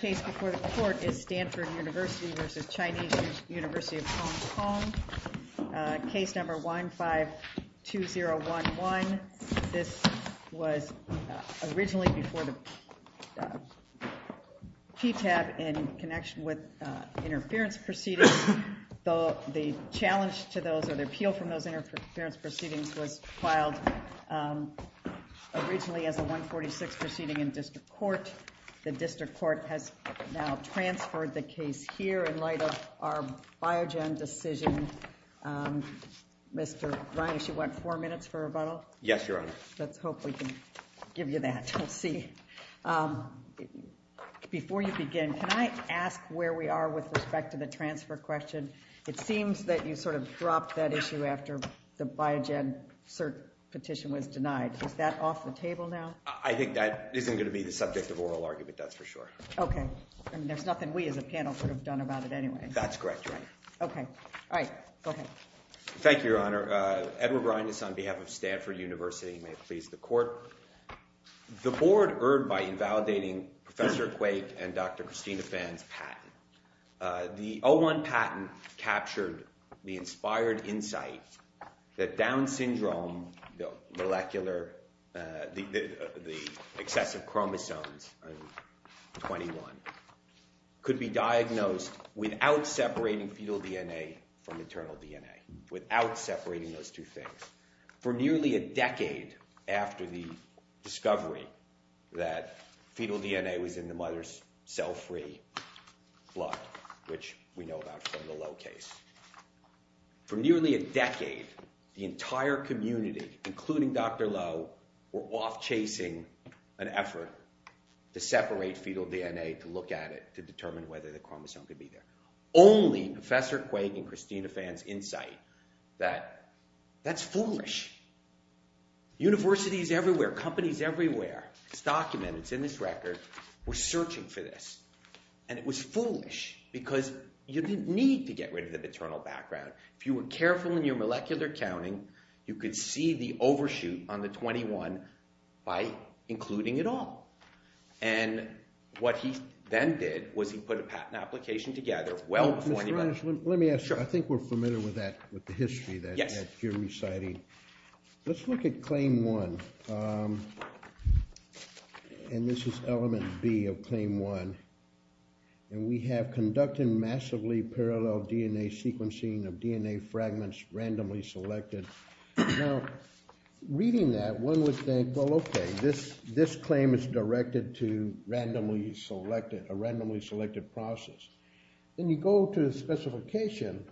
Case No. 152011. This was originally before the PTAB in connection with interference proceedings. The challenge to those or the appeal from those interference proceedings was filed originally as a 146 proceeding in district court. The district court has now transferred the case here in light of our Biogen decision. Mr. Reines, you want four minutes for rebuttal? Yes, Your Honor. Let's hope we can give you that. We'll see. Before you begin, can I ask where we are with respect to the transfer question? It seems that you sort of dropped that issue after the Biogen cert petition was denied. Is that off the table now? I think that isn't going to be the subject of oral argument, that's for sure. Okay. I mean, there's nothing we as a panel could have done about it anyway. That's correct, Your Honor. Okay. All right. Go ahead. Thank you, Your Honor. Edward Reines on behalf of Stanford University, may it please the court. The board erred by invalidating Professor Quake and Dr. Christina Phan's patent. The 01 patent captured the inspired insight that Down syndrome, the excessive chromosomes of 21, could be diagnosed without separating fetal DNA from maternal DNA, without separating those two things. For nearly a decade after the discovery that fetal DNA was in the mother's cell-free blood, which we know about from the Lowe case, for nearly a decade, the entire community, including Dr. Lowe, were off chasing an effort to separate fetal DNA to look at it to determine whether the chromosome could be there. Only Professor Quake and Christina Phan's insight that that's foolish. Universities everywhere, companies everywhere, it's documented, it's in this record, were searching for this. And it was foolish because you didn't need to get rid of the maternal background. If you were careful in your molecular counting, you could see the overshoot on the 21 by including it all. And what he then did was he put a patent application together well before anybody else. Let me ask you, I think we're familiar with that, with the history that you're reciting. Let's look at claim one. And this is element B of claim one. And we have conducted massively parallel DNA sequencing of DNA fragments randomly selected. Now, reading that, one would think, well, okay, this claim is directed to a randomly selected process. Then you go to the specification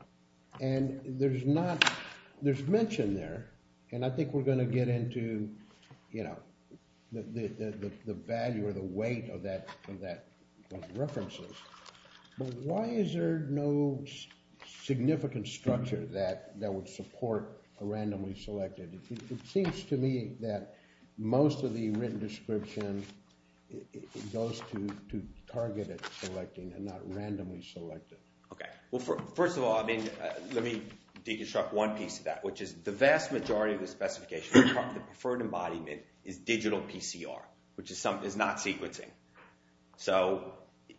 and there's mention there. And I think we're going to get into the value or the weight of that references. But why is there no significant structure that would support a randomly selected? It seems to me that most of the written description goes to targeted selecting and not randomly selected. Okay. Well, first of all, I mean, let me deconstruct one piece of that, which is the vast majority of the specification, the preferred embodiment is digital PCR, which is not sequencing. So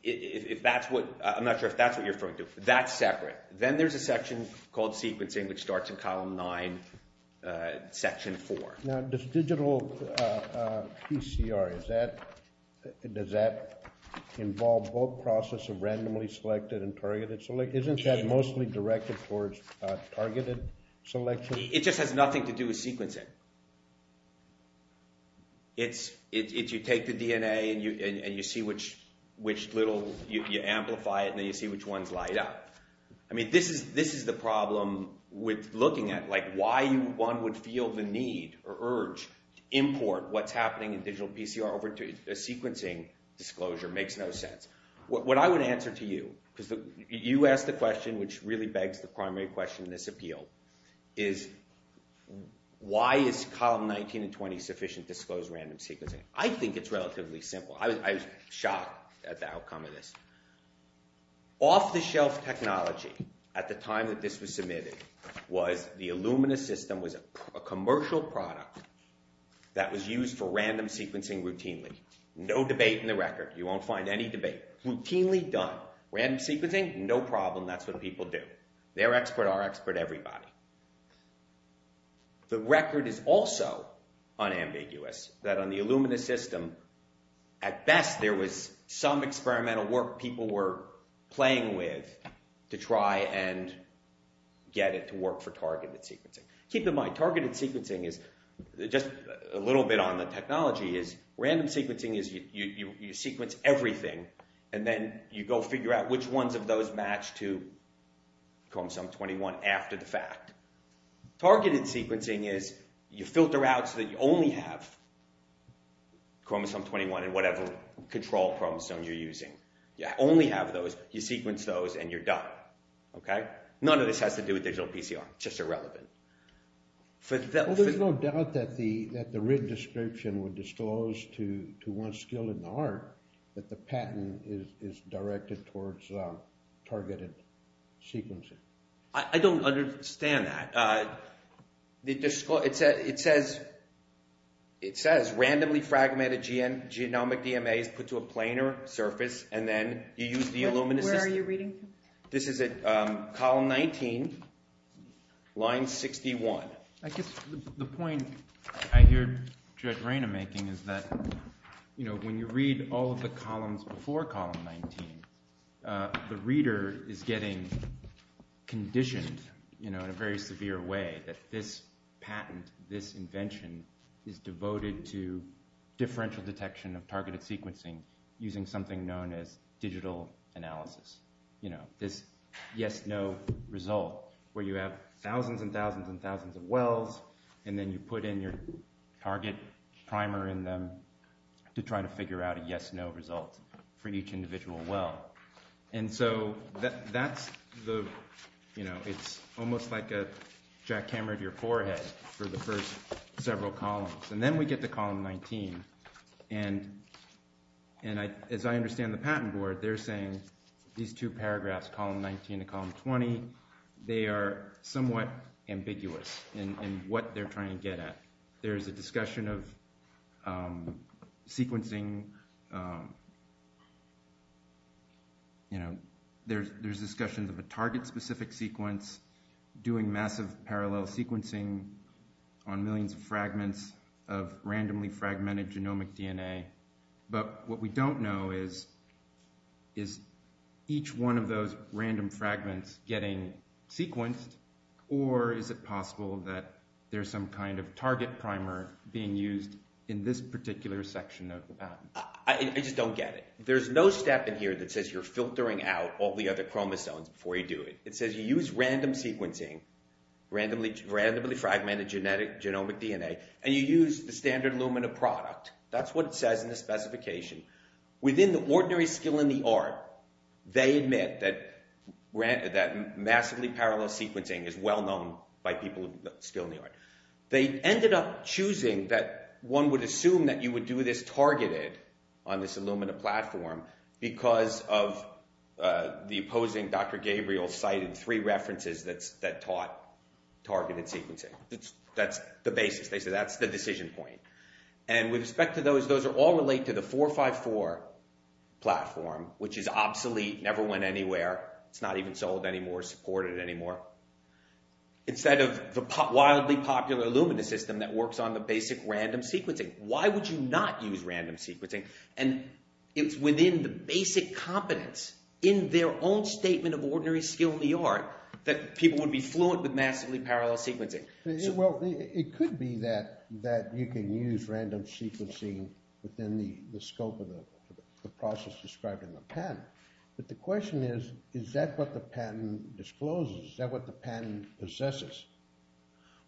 if that's what, I'm not sure if that's what you're referring to, that's separate. Then there's a section called sequencing, which starts in column nine, section four. Now, does digital PCR, does that involve both process of randomly selected and targeted? Isn't that mostly directed towards targeted selection? It just has nothing to do with sequencing. It's, you take the DNA and you see which little, you amplify it and then you see which ones light up. I mean, this is the problem with looking at, like, why one would feel the need or urge to import what's happening in digital PCR over to a sequencing disclosure, makes no sense. What I would answer to you, because you asked the question, which really begs the primary question in this appeal, is why is column 19 and 20 sufficient disclosed random sequencing? I think it's relatively simple. I was shocked at the outcome of this. Off-the-shelf technology, at the time that this was submitted, was the Illumina system was a commercial product that was used for random sequencing routinely. No debate in the record. You won't find any debate. Routinely done. Random sequencing, no problem. That's what people do. Their expert, our expert, everybody. The record is also unambiguous, that on the Illumina system, at best, there was some experimental work people were playing with to try and get it to work for targeted sequencing. Keep in mind, targeted sequencing is, just a little bit on the technology, is random sequencing is you sequence everything and then you go figure out which ones of those are going to match to chromosome 21 after the fact. Targeted sequencing is you filter out so that you only have chromosome 21 in whatever control chromosome you're using. You only have those, you sequence those, and you're done. None of this has to do with digital PCR. It's just irrelevant. There's no doubt that the writ description would disclose to one skill in the art that the patent is directed towards targeted sequencing. I don't understand that. It says randomly fragmented genomic DMAs put to a planar surface and then you use the Illumina system. Where are you reading from? This is at column 19, line 61. The point I hear Judge Rayna making is that when you read all of the columns before column 19, the reader is getting conditioned in a very severe way that this patent, this invention is devoted to differential detection of targeted sequencing using something known as digital wells and then you put in your target primer in them to try to figure out a yes-no result for each individual well. It's almost like a jackhammer to your forehead for the first several columns. Then we get to column 19. As I understand the patent board, they're saying these two paragraphs, column 19 and what they're trying to get at. There's a discussion of sequencing, there's discussions of a target-specific sequence, doing massive parallel sequencing on millions of fragments of randomly fragmented genomic DNA, but what we don't know is, is each one of those random fragments getting sequenced or is it possible that there's some kind of target primer being used in this particular section of the patent? I just don't get it. There's no step in here that says you're filtering out all the other chromosomes before you do it. It says you use random sequencing, randomly fragmented genomic DNA, and you use the standard Illumina product. That's what it says in the specification. Within the ordinary skill in the art, they admit that massively parallel sequencing is well known by people with skill in the art. They ended up choosing that one would assume that you would do this targeted on this Illumina platform because of the opposing Dr. Gabriel cited three references that taught targeted sequencing. That's the basis. They said that's the decision point. With respect to those, those all relate to the 454 platform, which is obsolete, never went anywhere. It's not even sold anymore, supported anymore, instead of the wildly popular Illumina system that works on the basic random sequencing. Why would you not use random sequencing? It's within the basic competence in their own statement of ordinary skill in the art that people would be fluent with massively parallel sequencing. It could be that you can use random sequencing within the scope of the process described in the patent. But the question is, is that what the patent discloses? Is that what the patent possesses?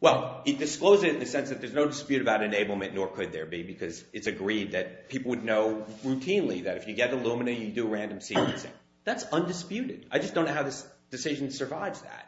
Well, it discloses it in the sense that there's no dispute about enablement, nor could there be, because it's agreed that people would know routinely that if you get Illumina, you do random sequencing. That's undisputed. I just don't know how this decision survives that.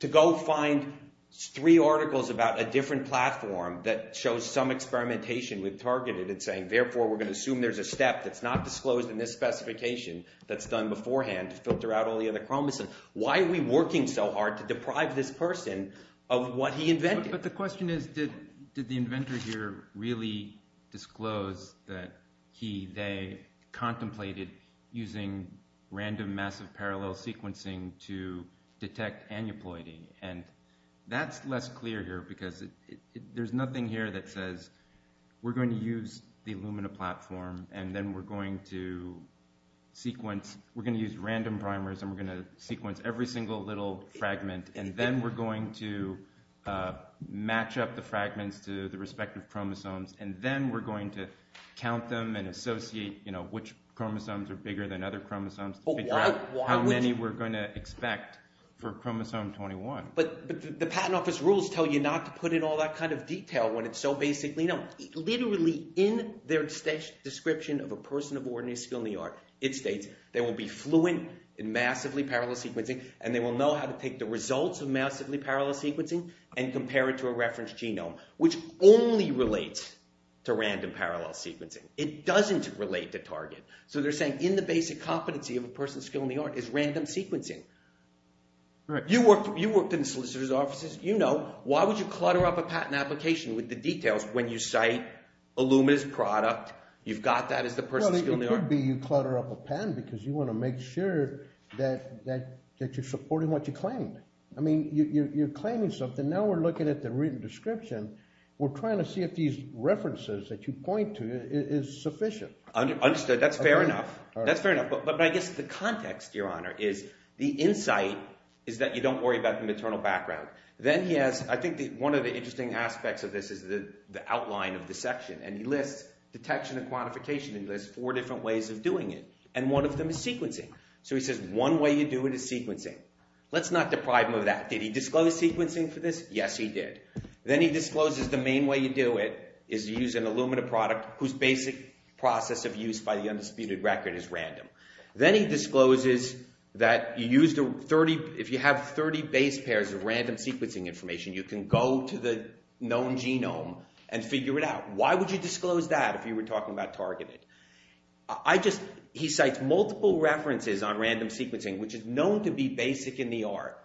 To go find three articles about a different platform that shows some experimentation with targeted and saying, therefore, we're going to assume there's a step that's not disclosed in this specification that's done beforehand to filter out all the other chromosomes. Why are we working so hard to deprive this person of what he invented? But the question is, did the inventor here really disclose that he, they contemplated using random massive parallel sequencing to detect aneuploidy? And that's less clear here, because there's nothing here that says, we're going to use the Illumina platform, and then we're going to sequence, we're going to use random primers, and we're going to sequence every single little fragment, and then we're going to match up the fragments to the respective chromosomes, and then we're going to count them and associate which chromosomes are bigger than other chromosomes to figure out how many we're going to expect for chromosome 21. But the patent office rules tell you not to put in all that kind of detail when it's so basically known. Literally, in their description of a person of ordinary skill and the art, it states they will be fluent in massively parallel sequencing, and they will know how to take the results of massively parallel sequencing and compare it to a reference genome, which only relates to random parallel sequencing. It doesn't relate to target. So they're saying in the basic competency of a person of skill and the art is random sequencing. You worked in the solicitor's offices, you know, why would you clutter up a patent application with the details when you cite Illumina's product, you've got that as the person of skill and the art? It could be you clutter up a patent because you want to make sure that you're supporting what you claim. I mean, you're claiming something, now we're looking at the written description, we're Understood. That's fair enough. That's fair enough. But I guess the context, Your Honor, is the insight is that you don't worry about the maternal background. Then he has, I think one of the interesting aspects of this is the outline of the section, and he lists detection and quantification, and he lists four different ways of doing it. And one of them is sequencing. So he says one way you do it is sequencing. Let's not deprive him of that. Did he disclose sequencing for this? Yes, he did. Then he discloses the main way you do it is to use an Illumina product whose basic process of use by the undisputed record is random. Then he discloses that if you have 30 base pairs of random sequencing information, you can go to the known genome and figure it out. Why would you disclose that if you were talking about targeted? He cites multiple references on random sequencing, which is known to be basic in the art.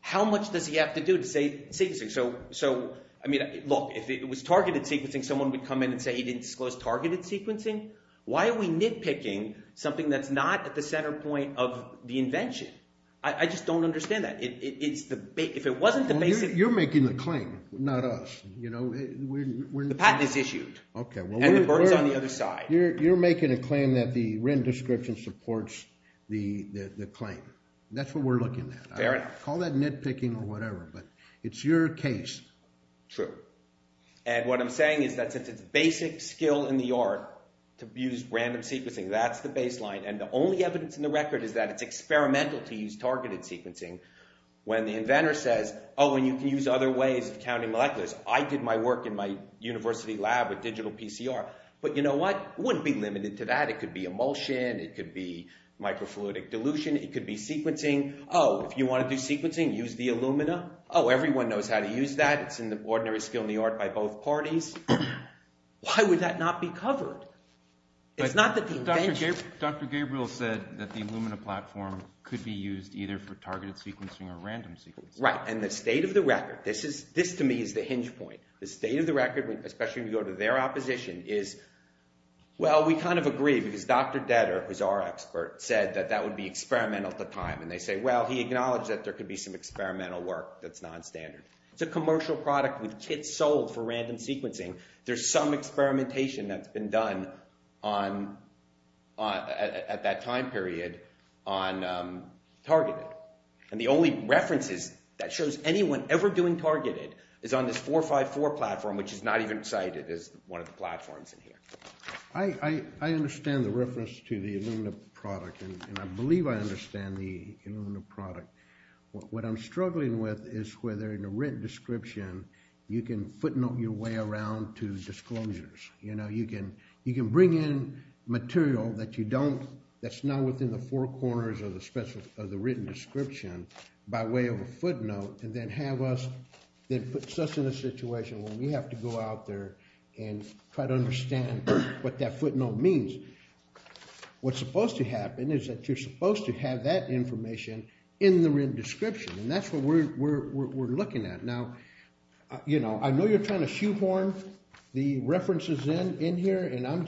How much does he have to do to say sequencing? So, I mean, look, if it was targeted sequencing, someone would come in and say he didn't disclose targeted sequencing. Why are we nitpicking something that's not at the center point of the invention? I just don't understand that. If it wasn't the basic… You're making the claim, not us. The patent is issued, and the burden's on the other side. You're making a claim that the Wren description supports the claim. That's what we're looking at. Fair enough. Call that nitpicking or whatever, but it's your case. True. And what I'm saying is that since it's basic skill in the art to use random sequencing, that's the baseline, and the only evidence in the record is that it's experimental to use targeted sequencing, when the inventor says, oh, and you can use other ways of counting moleculars. I did my work in my university lab with digital PCR. But you know what? It wouldn't be limited to that. It could be emulsion. It could be microfluidic dilution. It could be sequencing. Oh, if you want to do sequencing, use the Illumina. Oh, everyone knows how to use that. It's in the ordinary skill in the art by both parties. Why would that not be covered? It's not that the invention… But Dr. Gabriel said that the Illumina platform could be used either for targeted sequencing or random sequencing. Right. And the state of the record… This, to me, is the hinge point. The state of the record, especially when you go to their opposition, is, well, we kind of agree, because Dr. Detter, who's our expert, said that that would be experimental at the time. And they say, well, he acknowledged that there could be some experimental work that's nonstandard. It's a commercial product with kits sold for random sequencing. There's some experimentation that's been done at that time period on targeted. And the only references that shows anyone ever doing targeted is on this 454 platform, which is not even cited as one of the platforms in here. I understand the reference to the Illumina product, and I believe I understand the Illumina product. What I'm struggling with is whether, in a written description, you can footnote your way around to disclosures. You know, you can bring in material that's not within the four corners of the written description by way of a footnote, and then have us… and try to understand what that footnote means. What's supposed to happen is that you're supposed to have that information in the written description, and that's what we're looking at. Now, you know, I know you're trying to shoehorn the references in here, and I'm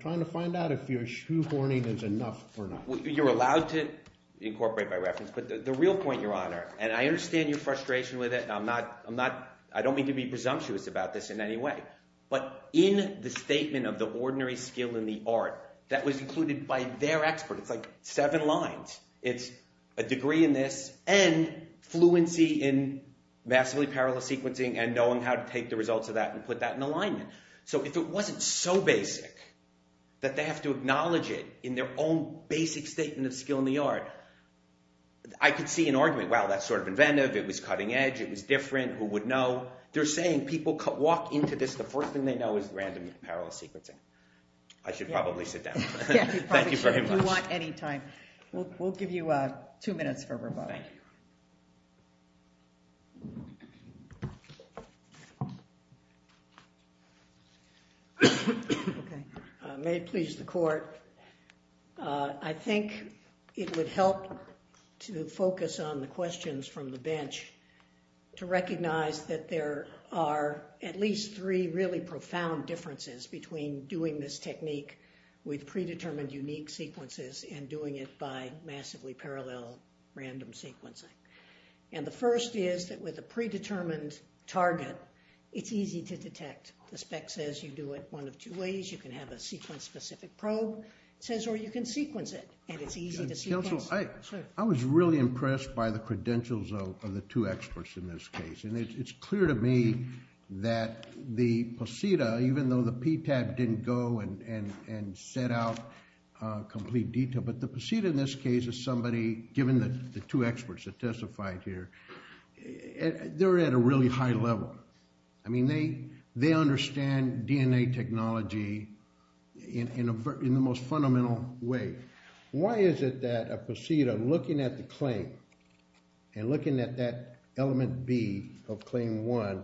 trying to find out if your shoehorning is enough or not. You're allowed to incorporate by reference, but the real point, Your Honor, and I understand your frustration with it, and I'm not… But in the statement of the ordinary skill in the art that was included by their expert, it's like seven lines. It's a degree in this and fluency in massively parallel sequencing and knowing how to take the results of that and put that in alignment. So if it wasn't so basic that they have to acknowledge it in their own basic statement of skill in the art, I could see an argument. Wow, that's sort of inventive. It was cutting edge. It was different. Who would know? They're saying people walk into this, the first thing they know is random and parallel sequencing. I should probably sit down. Thank you very much. Yeah, you probably should if you want any time. We'll give you two minutes for rebuttal. Thank you. May it please the Court, I think it would help to focus on the questions from the bench to recognize that there are at least three really profound differences between doing this technique with predetermined unique sequences and doing it by massively parallel random sequencing. And the first is that with a predetermined target, it's easy to detect. The spec says you do it one of two ways. You can have a sequence-specific probe. It says, or you can sequence it, and it's easy to sequence. Counsel, I was really impressed by the credentials of the two experts in this case. And it's clear to me that the POSITA, even though the PTAB didn't go and set out complete detail, but the POSITA in this case is somebody, given the two experts that testified here, they're at a really high level. I mean, they understand DNA technology in the most fundamental way. Why is it that a POSITA looking at the claim and looking at that element B of claim one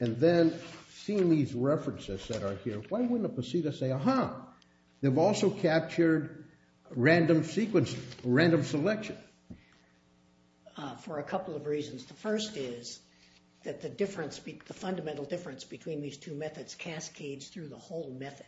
and then seeing these references that are here, why wouldn't a POSITA say, aha, they've also captured random sequence, random selection? For a couple of reasons. The first is that the fundamental difference between these two methods cascades through the whole method.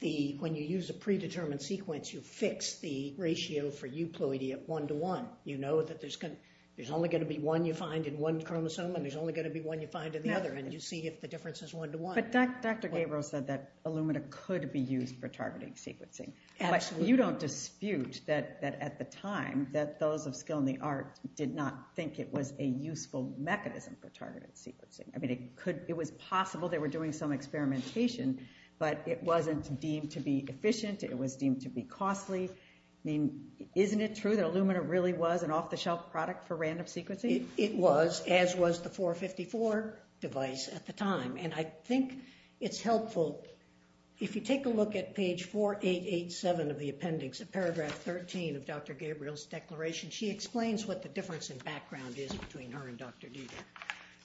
When you use a predetermined sequence, you fix the ratio for euploidy at one-to-one. You know that there's only going to be one you find in one chromosome and there's only going to be one you find in the other, and you see if the difference is one-to-one. But Dr. Gabriel said that Illumina could be used for targeting sequencing. Absolutely. You don't dispute that at the time that those of skill in the art did not think it was a useful mechanism for targeted sequencing. It was possible they were doing some experimentation, but it wasn't deemed to be efficient. It was deemed to be costly. I mean, isn't it true that Illumina really was an off-the-shelf product for random sequencing? It was, as was the 454 device at the time. And I think it's helpful, if you take a look at page 4887 of the appendix, paragraph 13 of Dr. Gabriel's declaration, she explains what the difference in background is between her and Dr. Duda.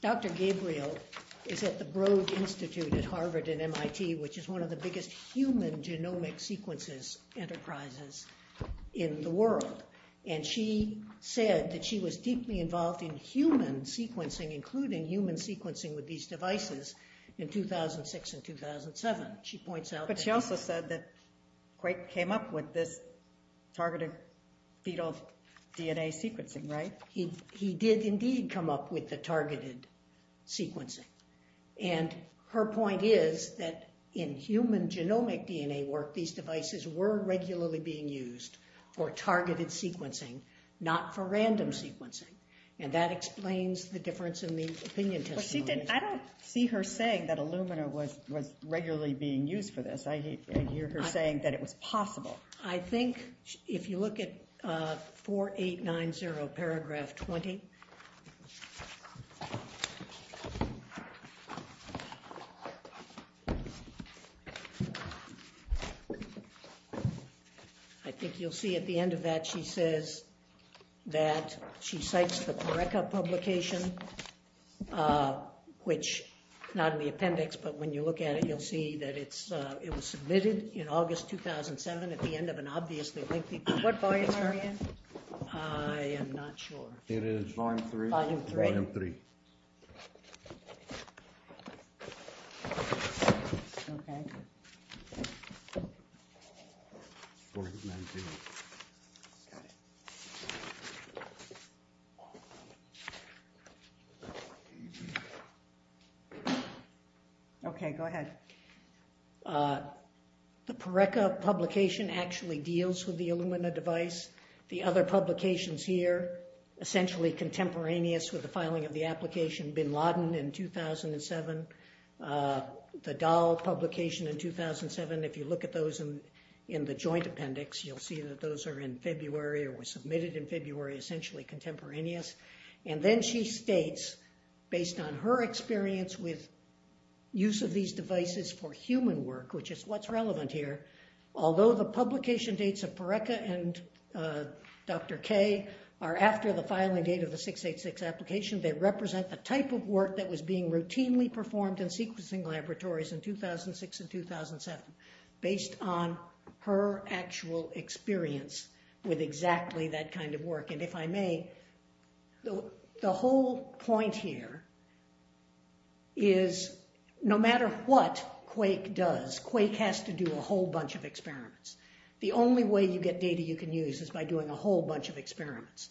Dr. Gabriel is at the Broad Institute at Harvard and MIT, which is one of the biggest human genomic sequences enterprises in the world. And she said that she was deeply involved in human sequencing, including human sequencing with these devices, in 2006 and 2007. But she also said that Quake came up with this targeted fetal DNA sequencing, right? He did indeed come up with the targeted sequencing. And her point is that in human genomic DNA work, these devices were regularly being used for targeted sequencing, not for random sequencing. And that explains the difference in the opinion testimonies. I don't see her saying that Illumina was regularly being used for this. I hear her saying that it was possible. I think if you look at 4890, paragraph 20, I think you'll see at the end of that, she says that she cites the Corecca publication, which, not in the appendix, but when you look at it, you'll see that it was submitted in August 2007 at the end of an obviously lengthy... What volume are we in? I am not sure. It is volume three. Volume three. Volume three. Okay. Okay, go ahead. The Corecca publication actually deals with the Illumina device. The other publications here, essentially contemporaneous with the filing of the application, Bin Laden in 2007, the Dahl publication in 2007. If you look at those in the joint appendix, you'll see that those are in February or were submitted in February, essentially contemporaneous. And then she states, based on her experience with use of these devices for human work, which is what's relevant here, although the publication dates of Corecca and Dr. K are after the filing date of the 686 application, they represent the type of work that was being routinely performed in sequencing laboratories in 2006 and 2007, based on her actual experience with exactly that kind of work. And if I may, the whole point here is no matter what Quake does, Quake has to do a whole bunch of experiments. The only way you get data you can use is by doing a whole bunch of experiments.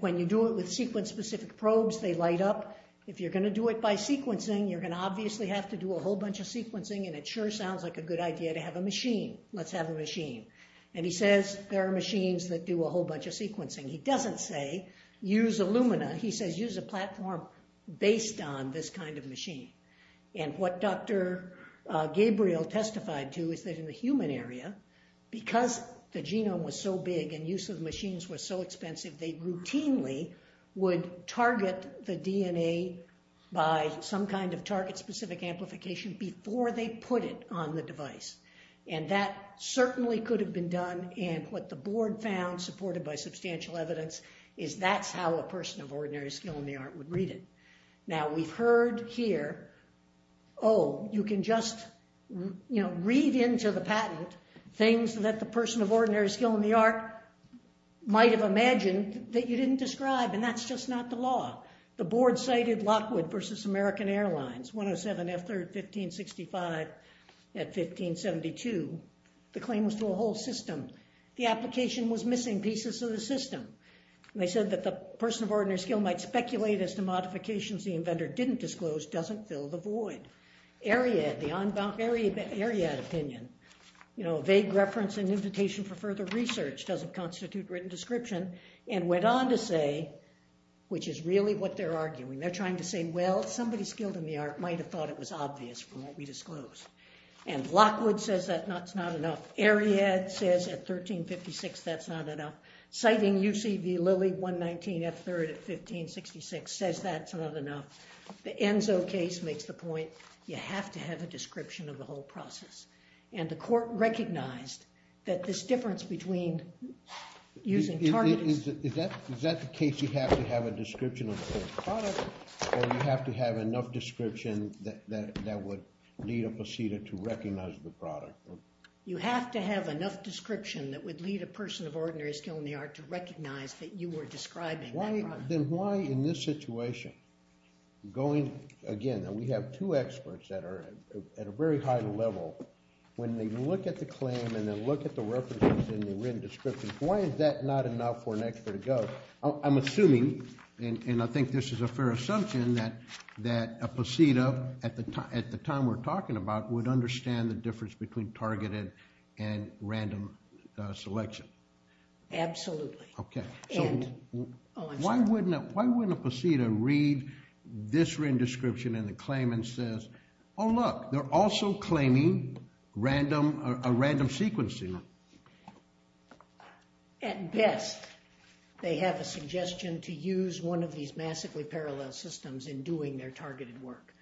When you do it with sequence-specific probes, they light up. If you're going to do it by sequencing, you're going to obviously have to do a whole bunch of sequencing, and it sure sounds like a good idea to have a machine. Let's have a machine. And he says there are machines that do a whole bunch of sequencing. He doesn't say use Illumina. He says use a platform based on this kind of machine. And what Dr. Gabriel testified to is that in the human area, because the genome was so big and use of machines was so expensive, they routinely would target the DNA by some kind of target-specific amplification before they put it on the device. And that certainly could have been done. And what the board found, supported by substantial evidence, is that's how a person of ordinary skill in the art would read it. Now, we've heard here, oh, you can just, you know, read into the patent things that the person of ordinary skill in the art might have imagined that you didn't describe, and that's just not the law. The board cited Lockwood v. American Airlines, 107 F3rd 1565 at 1572. The claim was to a whole system. The application was missing pieces of the system. And they said that the person of ordinary skill might speculate as to modifications the inventor didn't disclose doesn't fill the void. Ariad, the Ariad opinion, you know, vague reference and invitation for further research doesn't constitute written description, and went on to say, which is really what they're arguing. They're trying to say, well, somebody skilled in the art might have thought it was obvious from what we disclosed. And Lockwood says that's not enough. Ariad says at 1356 that's not enough. Citing U.C. v. Lilly 119 F3rd at 1566 says that's not enough. The Enzo case makes the point you have to have a description of the whole process. And the court recognized that this difference between using targeted... Is that the case, you have to have a description of the whole product, or you have to have enough description that would lead a procedure to recognize the product? You have to have enough description that would lead a person of ordinary skill in the art to recognize that you were describing that product. Then why, in this situation, going again, and we have two experts that are at a very high level, when they look at the claim and then look at the references in the written description, why is that not enough for an expert to go? I'm assuming, and I think this is a fair assumption, that a POSITA, at the time we're talking about, would understand the difference between targeted and random selection. Absolutely. Why wouldn't a POSITA read this written description in the claim and says, oh look, they're also claiming a random sequencing? At best, they have a suggestion to use one of these massively parallel systems in doing their targeted work.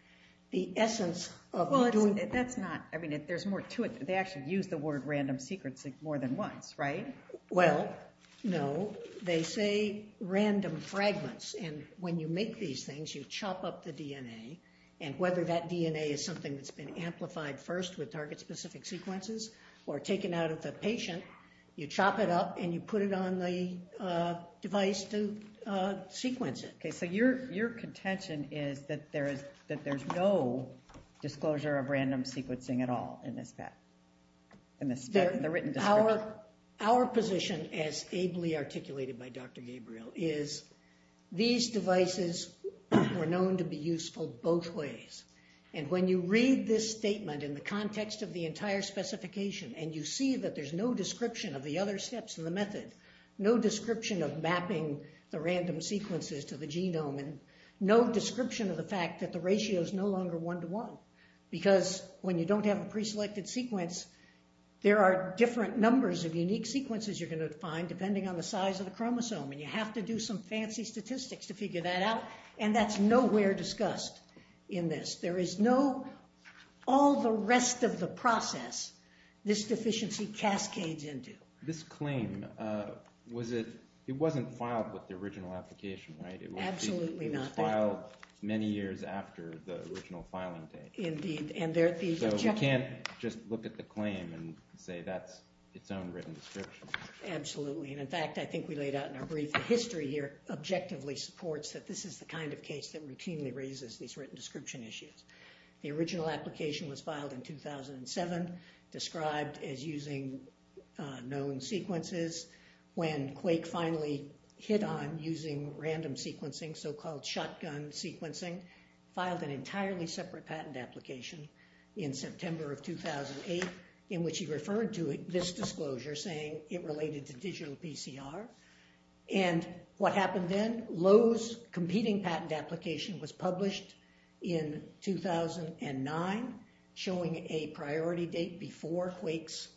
The essence of doing... Well, that's not... I mean, there's more to it. They actually use the word random sequencing more than once, right? Well, no. They say random fragments, and when you make these things, you chop up the DNA, and whether that DNA is something that's been amplified first with target-specific sequences or taken out of the patient, you chop it up and you put it on the device to sequence it. Okay, so your contention is that there's no disclosure of random sequencing at all in the written description. Our position, as ably articulated by Dr. Gabriel, is these devices were known to be useful both ways. And when you read this statement in the context of the entire specification and you see that there's no description of the other steps in the method, no description of mapping the random sequences to the genome, and no description of the fact that the ratio is no longer one-to-one, because when you don't have a preselected sequence, there are different numbers of unique sequences you're going to find depending on the size of the chromosome, and you have to do some fancy statistics to figure that out, and that's nowhere discussed in this. There is no all the rest of the process this deficiency cascades into. This claim, it wasn't filed with the original application, right? Absolutely not. It was filed many years after the original filing date. Indeed. So we can't just look at the claim and say that's its own written description. Absolutely, and in fact, I think we laid out in our brief that the history here objectively supports that this is the kind of case that routinely raises these written description issues. The original application was filed in 2007, described as using known sequences. When Quake finally hit on using random sequencing, so-called shotgun sequencing, filed an entirely separate patent application in September of 2008 in which he referred to this disclosure saying it related to digital PCR, and what happened then? Lowe's competing patent application was published in 2009 showing a priority date before Quake's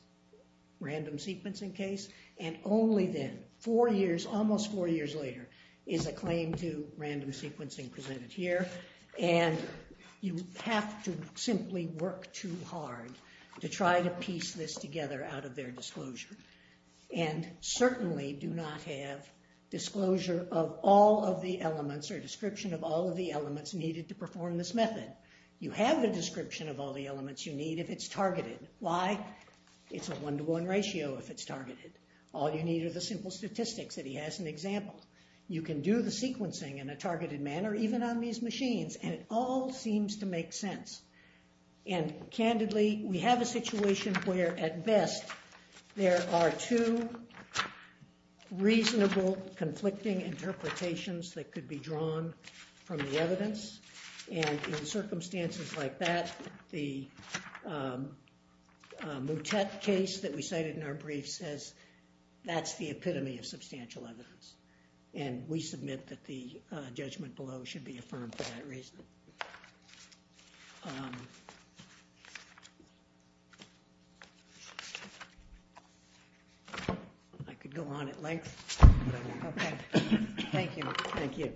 random sequencing case, and only then, four years, almost four years later, is a claim to random sequencing presented here, and you have to simply work too hard to try to piece this together out of their disclosure, and certainly do not have disclosure of all of the elements or description of all of the elements needed to perform this method. You have the description of all the elements you need if it's targeted. Why? It's a one-to-one ratio if it's targeted. All you need are the simple statistics that he has in the example. You can do the sequencing in a targeted manner, even on these machines, and it all seems to make sense. And candidly, we have a situation where, at best, there are two reasonable conflicting interpretations that could be drawn from the evidence, and in circumstances like that, the Moutet case that we cited in our brief says that's the epitome of substantial evidence, and we submit that the judgment below should be affirmed for that reason. I could go on at length, but I won't. Okay. Thank you. Thank you.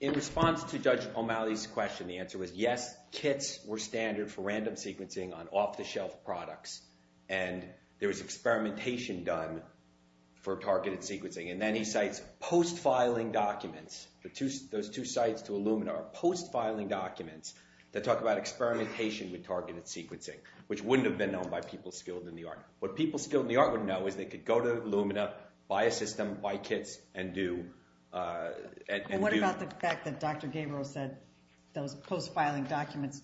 In response to Judge O'Malley's question, the answer was yes, kits were standard for random sequencing on off-the-shelf products, and there was experimentation done for targeted sequencing, and then he cites post-filing documents. Those two sites to Illumina are post-filing documents that talk about experimentation with targeted sequencing, which wouldn't have been known by people skilled in the art. What people skilled in the art would know is they could go to Illumina, buy a system, buy kits, and do... And what about the fact that Dr. Gabriel said those post-filing documents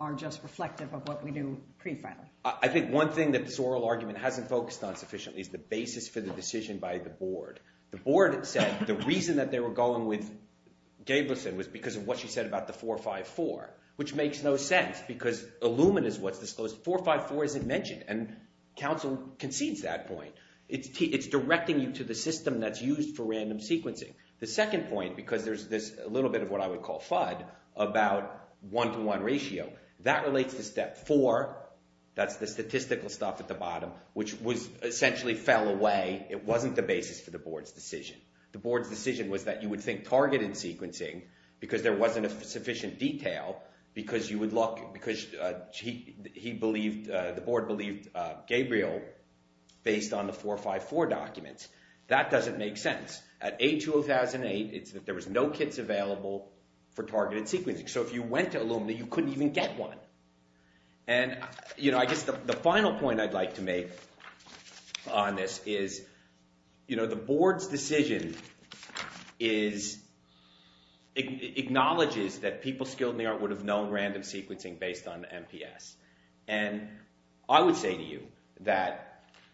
are just reflective of what we do pre-filing? I think one thing that this oral argument hasn't focused on sufficiently is the basis for the decision by the board. The board said the reason that they were going with Gabrielson was because of what she said about the 454, which makes no sense because Illumina is what's disclosed. 454 isn't mentioned, and counsel concedes that point. It's directing you to the system that's used for random sequencing. The second point, because there's a little bit of what I would call FUD about one-to-one ratio, that relates to step four. That's the statistical stuff at the bottom, which essentially fell away. It wasn't the basis for the board's decision. The board's decision was that you would think targeted sequencing because there wasn't sufficient detail, because you would look... because he believed... the board believed Gabriel based on the 454 documents. That doesn't make sense. At A2008, there was no kits available for targeted sequencing. So if you went to Illumina, you couldn't even get one. And, you know, I guess the final point I'd like to make on this is, you know, the board's decision is... acknowledges that people skilled in the art would have known random sequencing based on MPS. And I would say to you that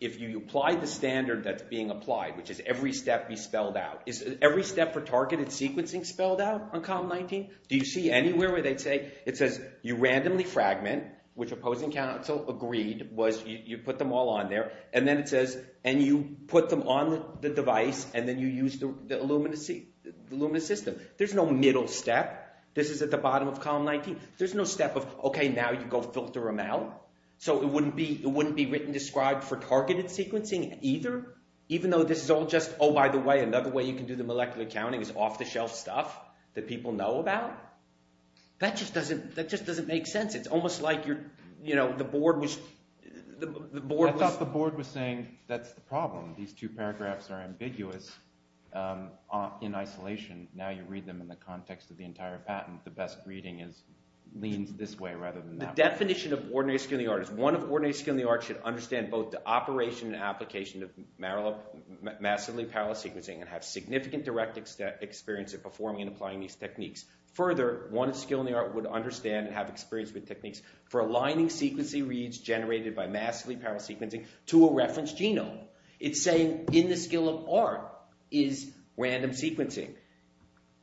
if you apply the standard that's being applied, which is every step be spelled out... Is every step for targeted sequencing spelled out on Column 19? Do you see anywhere where they'd say... It says you randomly fragment, which opposing counsel agreed, was you put them all on there, and then it says, and you put them on the device, and then you use the Illumina system. There's no middle step. This is at the bottom of Column 19. There's no step of, okay, now you go filter them out. So it wouldn't be written described for targeted sequencing either, even though this is all just, oh, by the way, another way you can do the molecular counting is off-the-shelf stuff that people know about. That just doesn't make sense. It's almost like, you know, the board was... The board was saying that's the problem. These two paragraphs are ambiguous in isolation. Now you read them in the context of the entire patent. The best reading leans this way rather than that way. The definition of ordinary skill in the art is one of ordinary skill in the art should understand both the operation and application of massively parallel sequencing and have significant direct experience of performing and applying these techniques. Further, one of skill in the art would understand and have experience with techniques for aligning sequencing reads generated by massively parallel sequencing to a reference genome. It's saying in the skill of art is random sequencing.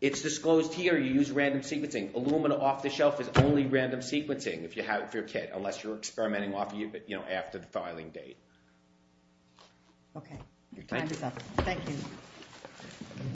It's disclosed here you use random sequencing. Illumina off-the-shelf is only random sequencing if you're a kid, unless you're experimenting after the filing date. Okay. Your time is up. Thank you.